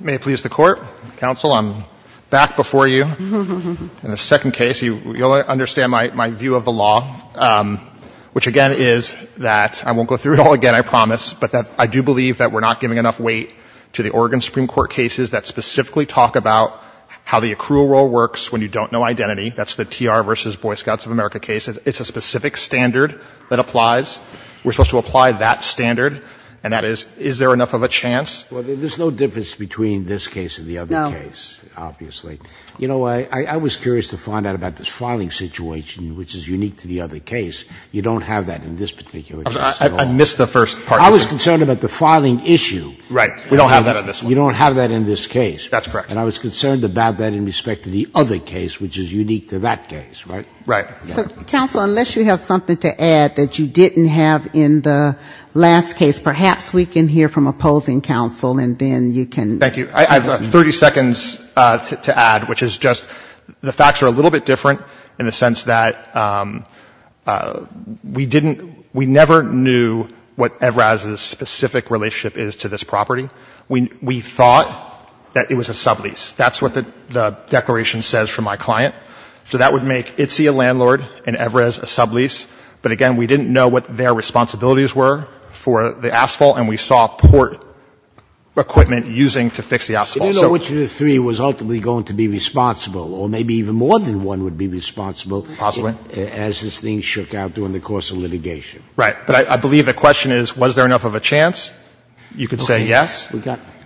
May it please the Court, Counsel, I'm back before you in the second case. You'll understand my view of the law, which again is that I won't go through it all again, I promise, but I do believe that we're not giving enough weight to the Oregon Supreme Court cases that specifically talk about how the accrual role works when you don't know identity. That's the TR v. Boy Scouts of America case. It's a specific standard that applies. We're supposed to apply that standard, and that is, is there enough of a chance? Well, there's no difference between this case and the other case, obviously. You know, I was curious to find out about this filing situation, which is unique to the other case. You don't have that in this particular case at all. I missed the first part. I was concerned about the filing issue. Right. We don't have that in this one. You don't have that in this case. That's correct. And I was concerned about that in respect to the other case, which is unique to that case, right? Right. So, counsel, unless you have something to add that you didn't have in the last case, perhaps we can hear from opposing counsel, and then you can ---- Thank you. I have 30 seconds to add, which is just the facts are a little bit different in the sense that we didn't, we never knew what Evraz's specific relationship is to this property. We thought that it was a sublease. That's what the declaration says for my client. So that would make Itzy a landlord and Evraz a sublease. But again, we didn't know what their responsibilities were for the asphalt, and we saw port equipment using to fix the asphalt. You didn't know which of the three was ultimately going to be responsible, or maybe even more than one would be responsible as this thing shook out during the course of litigation. Right. But I believe the question is, was there enough of a chance? You could say yes.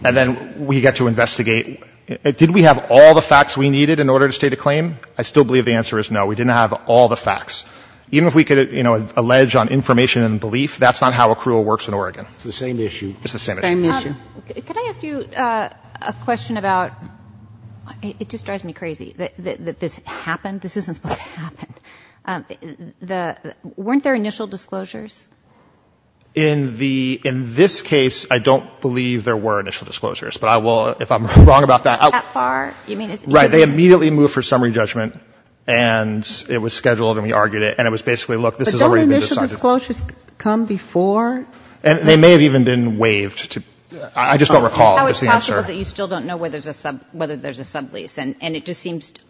And then we get to investigate, did we have all the facts we needed? In order to state a claim, I still believe the answer is no. We didn't have all the facts. Even if we could, you know, allege on information and belief, that's not how accrual works in Oregon. It's the same issue. It's the same issue. Same issue. Could I ask you a question about ---- it just drives me crazy that this happened. This isn't supposed to happen. The ---- weren't there initial disclosures? In the ---- in this case, I don't believe there were initial disclosures. But I will, if I'm wrong about that, I will ---- That far? You mean it's ---- Right. They immediately moved for summary judgment, and it was scheduled, and we argued it. And it was basically, look, this has already been decided. But don't initial disclosures come before? They may have even been waived. I just don't recall. That's the answer. How is it possible that you still don't know whether there's a sublease? And it just seems to ----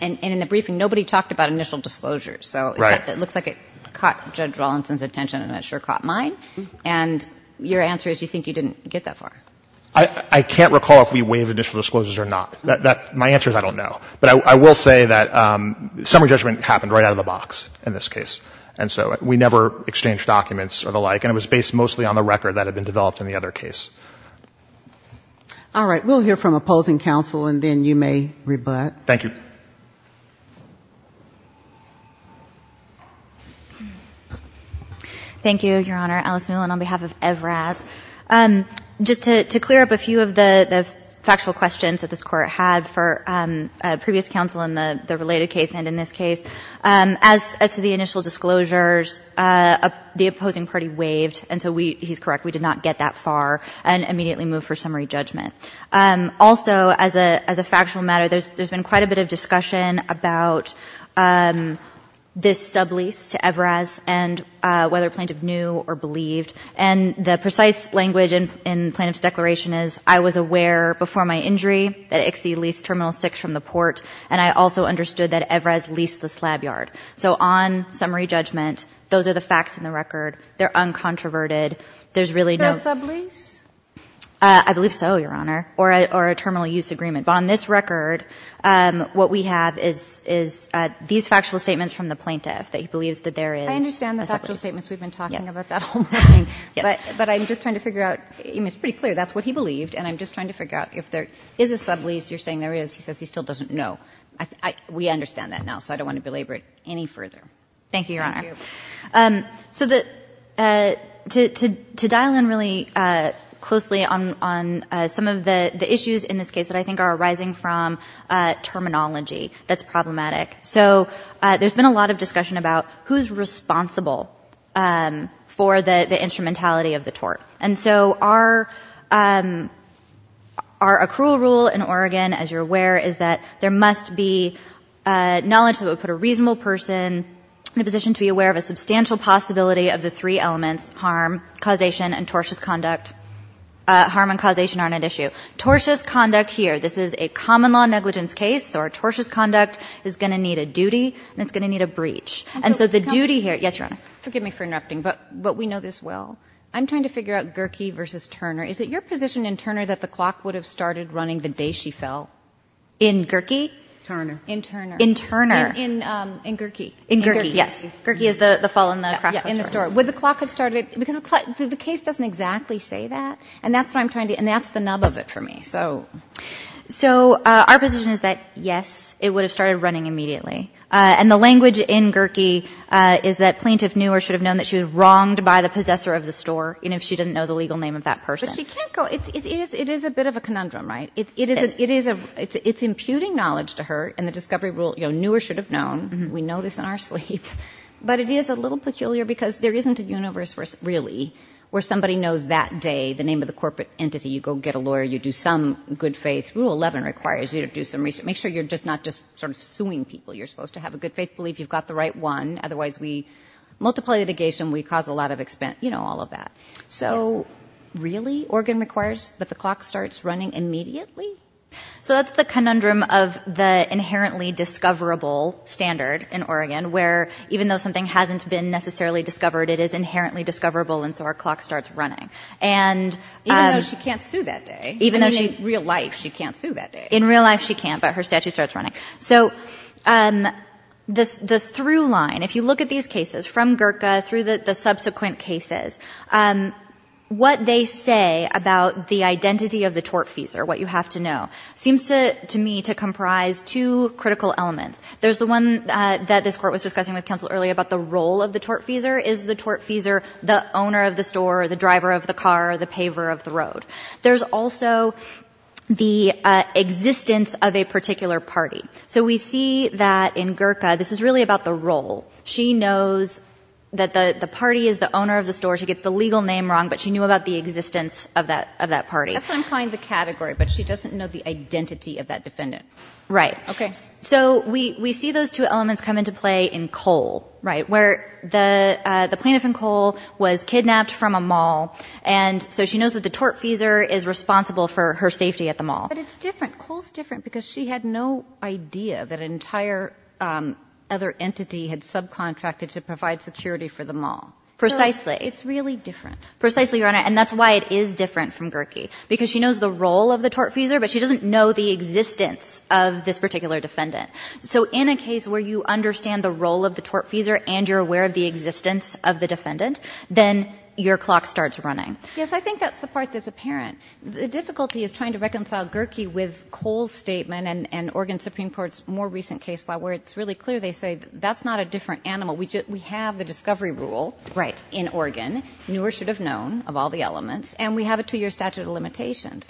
and in the briefing, nobody talked about initial disclosures. So it looks like it caught Judge Rawlinson's attention, and it sure caught mine. And your answer is you think you didn't get that far. I can't recall if we waived initial disclosures or not. That's my answer is I don't know. But I will say that summary judgment happened right out of the box in this case. And so we never exchanged documents or the like. And it was based mostly on the record that had been developed in the other case. All right. We'll hear from opposing counsel, and then you may rebut. Thank you. Thank you, Your Honor. Alice Mullen on behalf of EVRAS. Just to clear up a few of the factual questions that this Court had for previous counsel in the related case and in this case, as to the initial disclosures, the opposing party waived, and so we ---- he's correct, we did not get that far and immediately moved for summary judgment. Also, as a factual matter, there's been quite a bit of discussion about this language in the plaintiff's declaration is, I was aware before my injury that ICSI leased Terminal 6 from the port, and I also understood that EVRAS leased the slab yard. So on summary judgment, those are the facts in the record. They're uncontroverted. There's really no ---- No sublease? I believe so, Your Honor, or a terminal use agreement. But on this record, what we have is these factual statements from the plaintiff that he believes that there is a sublease. I understand the factual statements we've been talking about that whole morning. Yes. But I'm just trying to figure out, it's pretty clear that's what he believed, and I'm just trying to figure out if there is a sublease. You're saying there is. He says he still doesn't know. We understand that now, so I don't want to belabor it any further. Thank you, Your Honor. Thank you. So to dial in really closely on some of the issues in this case that I think are arising from terminology that's problematic. So there's been a lot of discussion about who's responsible for the instrumentality of the tort. And so our accrual rule in Oregon, as you're aware, is that there must be knowledge that would put a reasonable person in a position to be aware of a substantial possibility of the three elements, harm, causation, and tortious conduct. Harm and causation aren't at issue. Tortious conduct here, this is a common law negligence case, so our tortious conduct is going to need a duty, and it's going to need a breach. And so the duty here, yes, Your Honor? Forgive me for interrupting, but we know this well. I'm trying to figure out Gerke versus Turner. Is it your position in Turner that the clock would have started running the day she fell? In Gerke? Turner. In Turner. In Turner. In Gerke. In Gerke, yes. Gerke is the fall in the crack of the store. Would the clock have started, because the case doesn't exactly say that. And that's what I'm trying to, and that's the nub of it for me. So our position is that, yes, it would have started running immediately. And the language in Gerke is that plaintiff knew or should have known that she was wronged by the possessor of the store, and if she didn't know the legal name of that person. But she can't go, it is a bit of a conundrum, right? It's imputing knowledge to her, and the discovery rule, knew or should have known, we know this in our sleep, but it is a little peculiar because there isn't a universe, really, where somebody knows that day the name of the good faith. Rule 11 requires you to do some research. Make sure you're just not just sort of suing people. You're supposed to have a good faith belief. You've got the right one. Otherwise, we multiply litigation. We cause a lot of expense. You know, all of that. So really, Oregon requires that the clock starts running immediately? So that's the conundrum of the inherently discoverable standard in Oregon, where even though something hasn't been necessarily discovered, it is inherently discoverable, and so our clock starts running. And- Even though she can't sue that day. Even in real life, she can't sue that day. In real life, she can't, but her statute starts running. So the through line, if you look at these cases, from Gurkha through the subsequent cases, what they say about the identity of the tortfeasor, what you have to know, seems to me to comprise two critical elements. There's the one that this court was discussing with counsel earlier about the role of the tortfeasor. Is the tortfeasor the owner of the store, the driver of the car, the paver of the road? There's also the existence of a particular party. So we see that in Gurkha, this is really about the role. She knows that the party is the owner of the store. She gets the legal name wrong, but she knew about the existence of that party. That's what I'm calling the category, but she doesn't know the identity of that defendant. Right. Okay. So we see those two elements come into play in Cole, right? Where the plaintiff in Cole was kidnapped from a mall, and so she knows that the tortfeasor is responsible for her safety at the mall. But it's different. Cole's different because she had no idea that an entire other entity had subcontracted to provide security for the mall. Precisely. It's really different. Precisely, Your Honor, and that's why it is different from Gurkha, because she knows the role of the tortfeasor, but she doesn't know the existence of this particular defendant. So in a case where you understand the role of the tortfeasor and you're aware of the existence of the defendant, then your clock starts running. Yes, I think that's the part that's apparent. The difficulty is trying to reconcile Gurkha with Cole's statement and Oregon Supreme Court's more recent case law, where it's really clear they say that's not a different animal, we have the discovery rule in Oregon, newer should have known of all the elements, and we have a 2-year statute of limitations.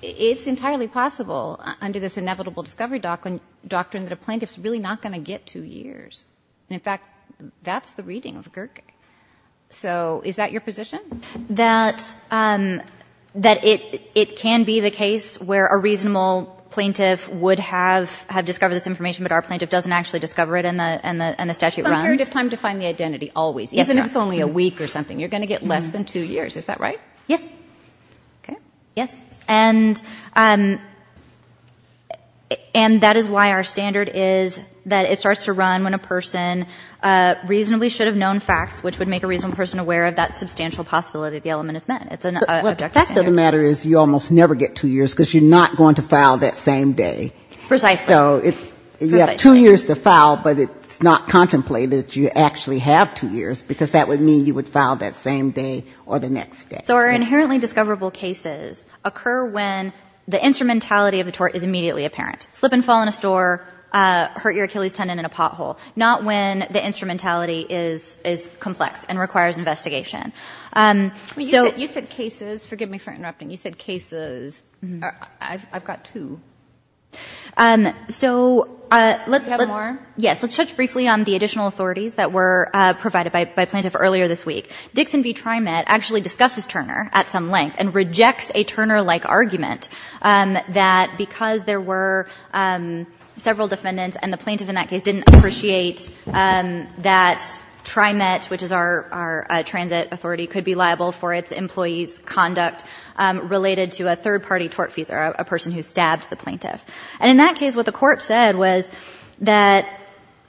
It's entirely possible under this inevitable discovery doctrine that a plaintiff is really not going to get 2 years. In fact, that's the reading of Gurkha. So is that your position? That it can be the case where a reasonable plaintiff would have discovered this information, but our plaintiff doesn't actually discover it and the statute runs? But a period of time to find the identity always, even if it's only a week or something. You're going to get less than 2 years. Is that right? Yes. Okay. Yes. And that is why our standard is that it starts to run when a person reasonably should have known facts, which would make a reasonable person aware of that substantial possibility the element is meant. The fact of the matter is you almost never get 2 years, because you're not going to file that same day. Precisely. So you have 2 years to file, but it's not contemplated that you actually have 2 years, because that would mean you would file that same day or the next day. So our inherently discoverable cases occur when the instrumentality of the tort is immediately apparent. Slip and fall in a store, hurt your Achilles tendon in a pothole. Not when the instrumentality is complex and requires investigation. You said cases. Forgive me for interrupting. You said cases. I've got 2. So let's touch briefly on the additional authorities that were provided by a plaintiff earlier this week. Dixon v. TriMet actually discusses Turner at some length and rejects a Turner-like argument that because there were several defendants and the plaintiff in that case did appreciate that TriMet, which is our transit authority, could be liable for its employees' conduct related to a third-party tortfeasor, a person who stabbed the plaintiff. And in that case, what the court said was that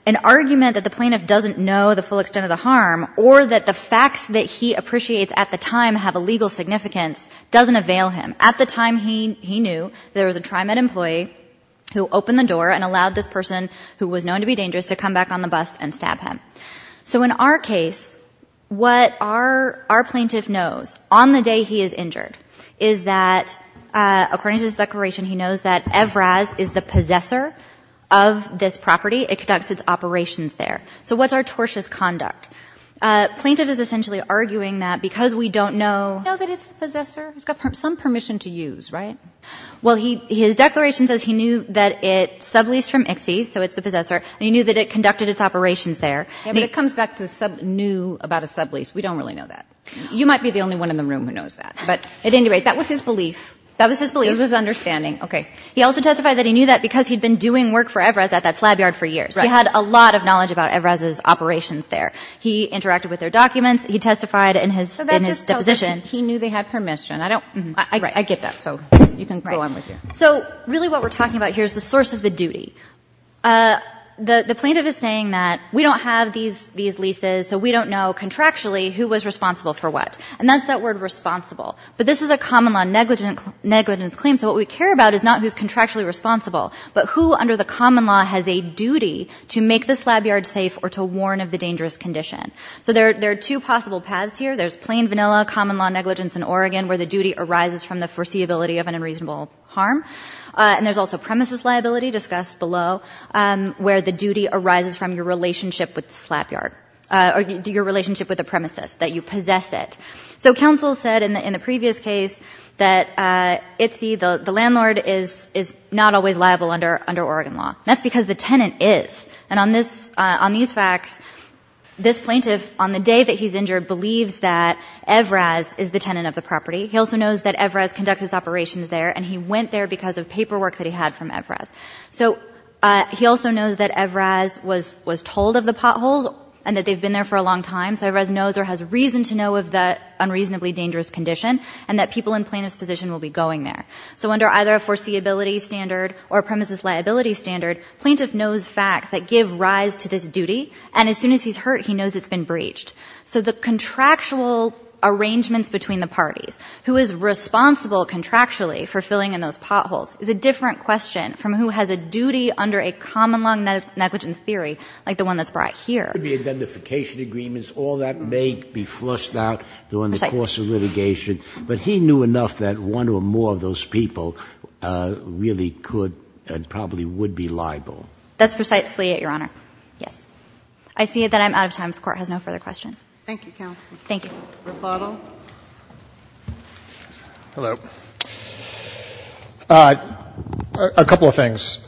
an argument that the plaintiff doesn't know the full extent of the harm or that the facts that he appreciates at the time have a legal significance doesn't avail him. At the time, he knew there was a TriMet employee who opened the door and allowed this person, who was known to be dangerous, to come back on the bus and stab him. So in our case, what our plaintiff knows on the day he is injured is that, according to his declaration, he knows that Evraz is the possessor of this property. It conducts its operations there. So what's our tortious conduct? Plaintiff is essentially arguing that because we don't know that it's the possessor, he's got some permission to use, right? Well, his declaration says he knew that it subleased from ICSI, so it's the possessor, and he knew that it conducted its operations there. Yeah, but it comes back to knew about a sublease. We don't really know that. You might be the only one in the room who knows that. But at any rate, that was his belief. That was his belief. It was his understanding. Okay. He also testified that he knew that because he'd been doing work for Evraz at that slab yard for years. Right. He had a lot of knowledge about Evraz's operations there. He interacted with their documents. He testified in his deposition. So that just tells us he knew they had permission. I don't – I get that. So you can go on with your – So really what we're talking about here is the source of the duty. The plaintiff is saying that we don't have these leases, so we don't know contractually who was responsible for what. And that's that word responsible. But this is a common law negligence claim, so what we care about is not who's contractually responsible, but who under the common law has a duty to make the slab yard safe or to warn of the dangerous condition. So there are two possible paths here. There's plain vanilla common law negligence in Oregon where the duty arises from the foreseeability of an unreasonable harm, and there's also premises liability, discussed below, where the duty arises from your relationship with the slab yard – or your relationship with the premises, that you possess it. So counsel said in the previous case that Itzi, the landlord, is not always liable under Oregon law. That's because the tenant is. And on these facts, this plaintiff, on the day that he's injured, believes that Evraz is the tenant of the property. He also knows that Evraz conducts his operations there, and he went there because of paperwork that he had from Evraz. So he also knows that Evraz was told of the potholes and that they've been there for a long time, so Evraz knows or has reason to know of the unreasonably dangerous condition and that people in plaintiff's position will be going there. So under either a foreseeability standard or a premises liability standard, plaintiff knows facts that give rise to this duty, and as soon as he's hurt, he knows it's been breached. So the contractual arrangements between the parties, who is responsible contractually for filling in those potholes, is a different question from who has a duty under a common law negligence theory like the one that's brought here. Could be identification agreements. All that may be flushed out during the course of litigation, but he knew enough that one or more of those people really could and probably would be liable. That's precisely it, Your Honor, yes. I see that I'm out of time. The Fifth Court has no further questions. Thank you, counsel. Thank you. Mr. Plato. Hello. A couple of things.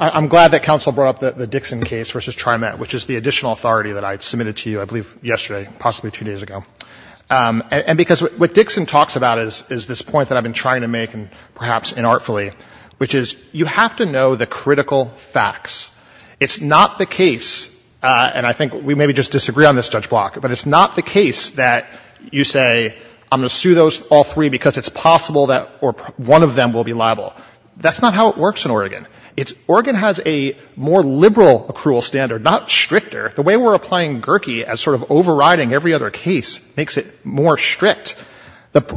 I'm glad that counsel brought up the Dixon case versus TriMet, which is the additional authority that I submitted to you, I believe, yesterday, possibly two days ago. And because what Dixon talks about is this point that I've been trying to make, and perhaps inartfully, which is you have to know the critical facts. It's not the case, and I think we maybe just disagree on this, Judge Block, but it's not the case that you say I'm going to sue those all three because it's possible that one of them will be liable. That's not how it works in Oregon. Oregon has a more liberal accrual standard, not stricter. The way we're applying Gherke as sort of overriding every other case makes it more strict.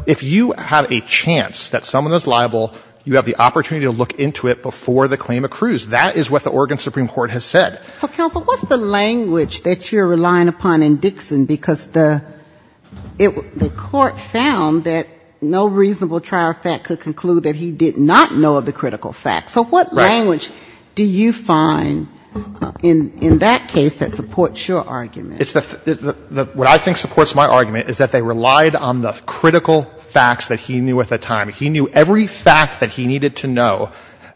If you have a chance that someone is liable, you have the opportunity to look into it before the claim accrues. That is what the Oregon Supreme Court has said. So, counsel, what's the language that you're relying upon in Dixon? Because the court found that no reasonable trier of fact could conclude that he did not know of the critical facts. So what language do you find in that case that supports your argument? What I think supports my argument is that they relied on the critical facts that he knew at the time. He knew every fact that he needed to know.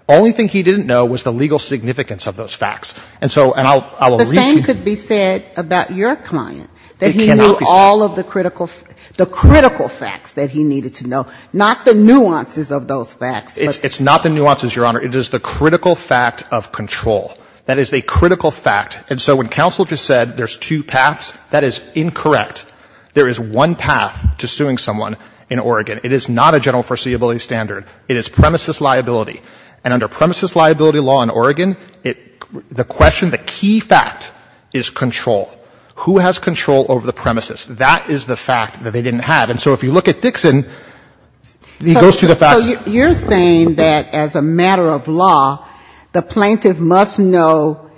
The only thing he didn't know was the legal significance of those facts. And so, and I will read to you. The same could be said about your client, that he knew all of the critical facts, the critical facts that he needed to know, not the nuances of those facts. It's not the nuances, Your Honor. It is the critical fact of control. That is a critical fact. And so when counsel just said there's two paths, that is incorrect. There is one path to suing someone in Oregon. It is not a general foreseeability standard. It is premises liability. And under premises liability law in Oregon, the question, the key fact is control. Who has control over the premises? That is the fact that they didn't have. And so if you look at Dixon, he goes to the facts. So you're saying that as a matter of law, the plaintiff must know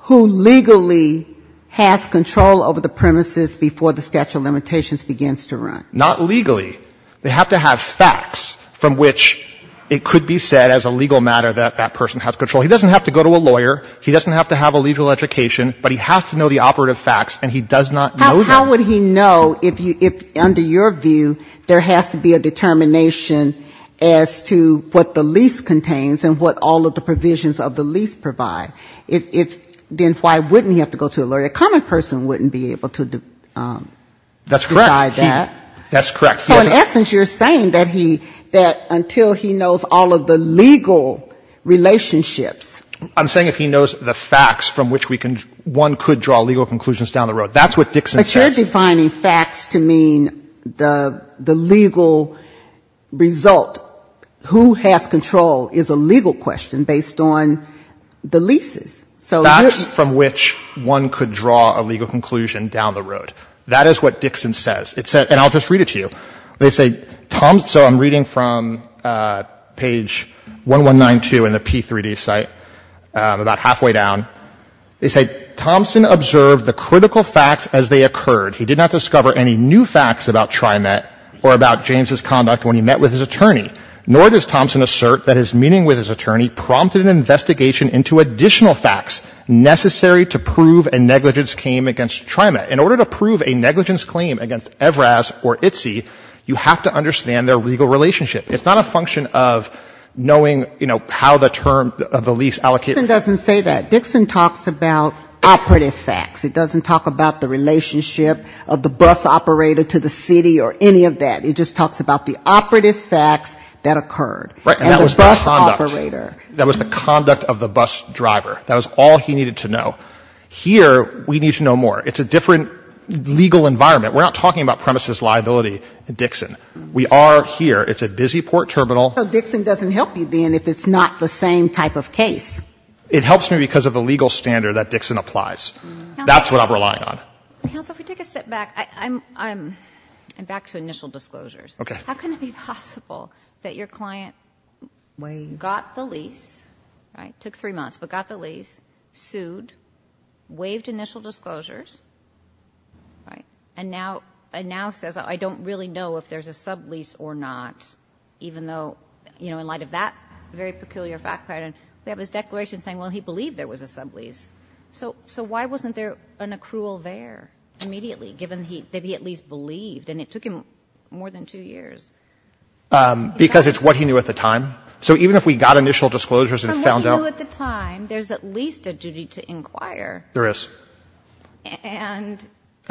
who legally has control over the premises before the statute of limitations begins to run? Not legally. They have to have facts from which it could be said as a legal matter that that person has control. He doesn't have to go to a lawyer. He doesn't have to have a legal education, but he has to know the operative facts, and he does not know them. How would he know if, under your view, there has to be a determination as to what the lease contains and what all of the provisions of the lease provide? If then, why wouldn't he have to go to a lawyer? A common person wouldn't be able to decide that. That's correct. That's correct. So in essence, you're saying that he — that until he knows all of the legal relationships — I'm saying if he knows the facts from which we can — one could draw legal conclusions down the road. That's what Dixon says. But you're defining facts to mean the legal result. Who has control is a legal question based on the leases. So — Facts from which one could draw a legal conclusion down the road. That is what Dixon says. It says — and I'll just read it to you. They say — so I'm reading from page 1192 in the P3D site, about halfway down. They say, Thompson observed the critical facts as they occurred. He did not discover any new facts about TriMet or about James's conduct when he met with his attorney, nor does Thompson assert that his meeting with his attorney prompted an investigation into additional facts necessary to prove a negligence claim against TriMet. In order to prove a negligence claim against Evraz or ITSE, you have to understand their legal relationship. It's not a function of knowing, you know, how the term of the lease allocated. Dixon doesn't say that. Dixon talks about operative facts. It doesn't talk about the relationship of the bus operator to the city or any of that. It just talks about the operative facts that occurred. Right. And that was the conduct. And the bus operator. That was the conduct of the bus driver. That was all he needed to know. Here, we need to know more. It's a different legal environment. We're not talking about premises liability, Dixon. We are here. It's a busy port terminal. So Dixon doesn't help you then if it's not the same type of case? It helps me because of the legal standard that Dixon applies. That's what I'm relying on. Counsel, if we take a step back, I'm back to initial disclosures. Okay. How can it be possible that your client got the lease, right, took three months, but got the lease, sued, waived initial disclosures, right, and now says, I don't really know if there's a sublease or not, even though, you know, in light of that very peculiar fact pattern, we have his declaration saying, well, he believed there was a sublease. So why wasn't there an accrual there immediately, given that he at least believed? And it took him more than two years. Because it's what he knew at the time. So even if we got initial disclosures and found out the time, there's at least a duty to inquire. There is. And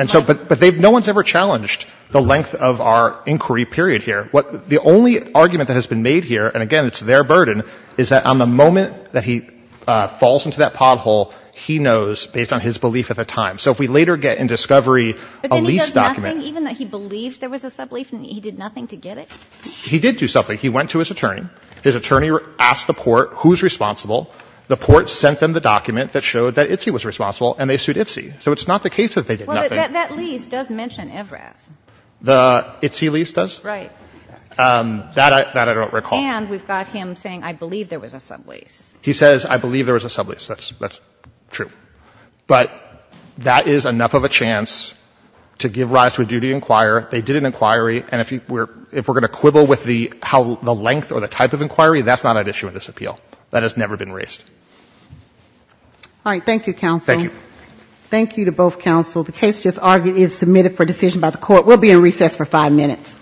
so but no one's ever challenged the length of our inquiry period here. The only argument that has been made here, and again, it's their burden, is that on the moment that he falls into that pothole, he knows, based on his belief at the time. So if we later get in discovery a lease document. But then he does nothing, even though he believed there was a sublease, and he did nothing to get it? He did do something. He went to his attorney. His attorney asked the court who's responsible. The court sent them the document that showed that Itsy was responsible, and they sued Itsy. So it's not the case that they did nothing. Well, that lease does mention Evrath. The Itsy lease does? Right. That I don't recall. And we've got him saying, I believe there was a sublease. He says, I believe there was a sublease. That's true. But that is enough of a chance to give rise to a duty to inquire. They did an inquiry. And if we're going to quibble with the length or the type of inquiry, that's not an issue in this appeal. That has never been raised. All right. Thank you, counsel. Thank you. Thank you to both counsel. The case just argued is submitted for decision by the court. We'll be in recess for five minutes.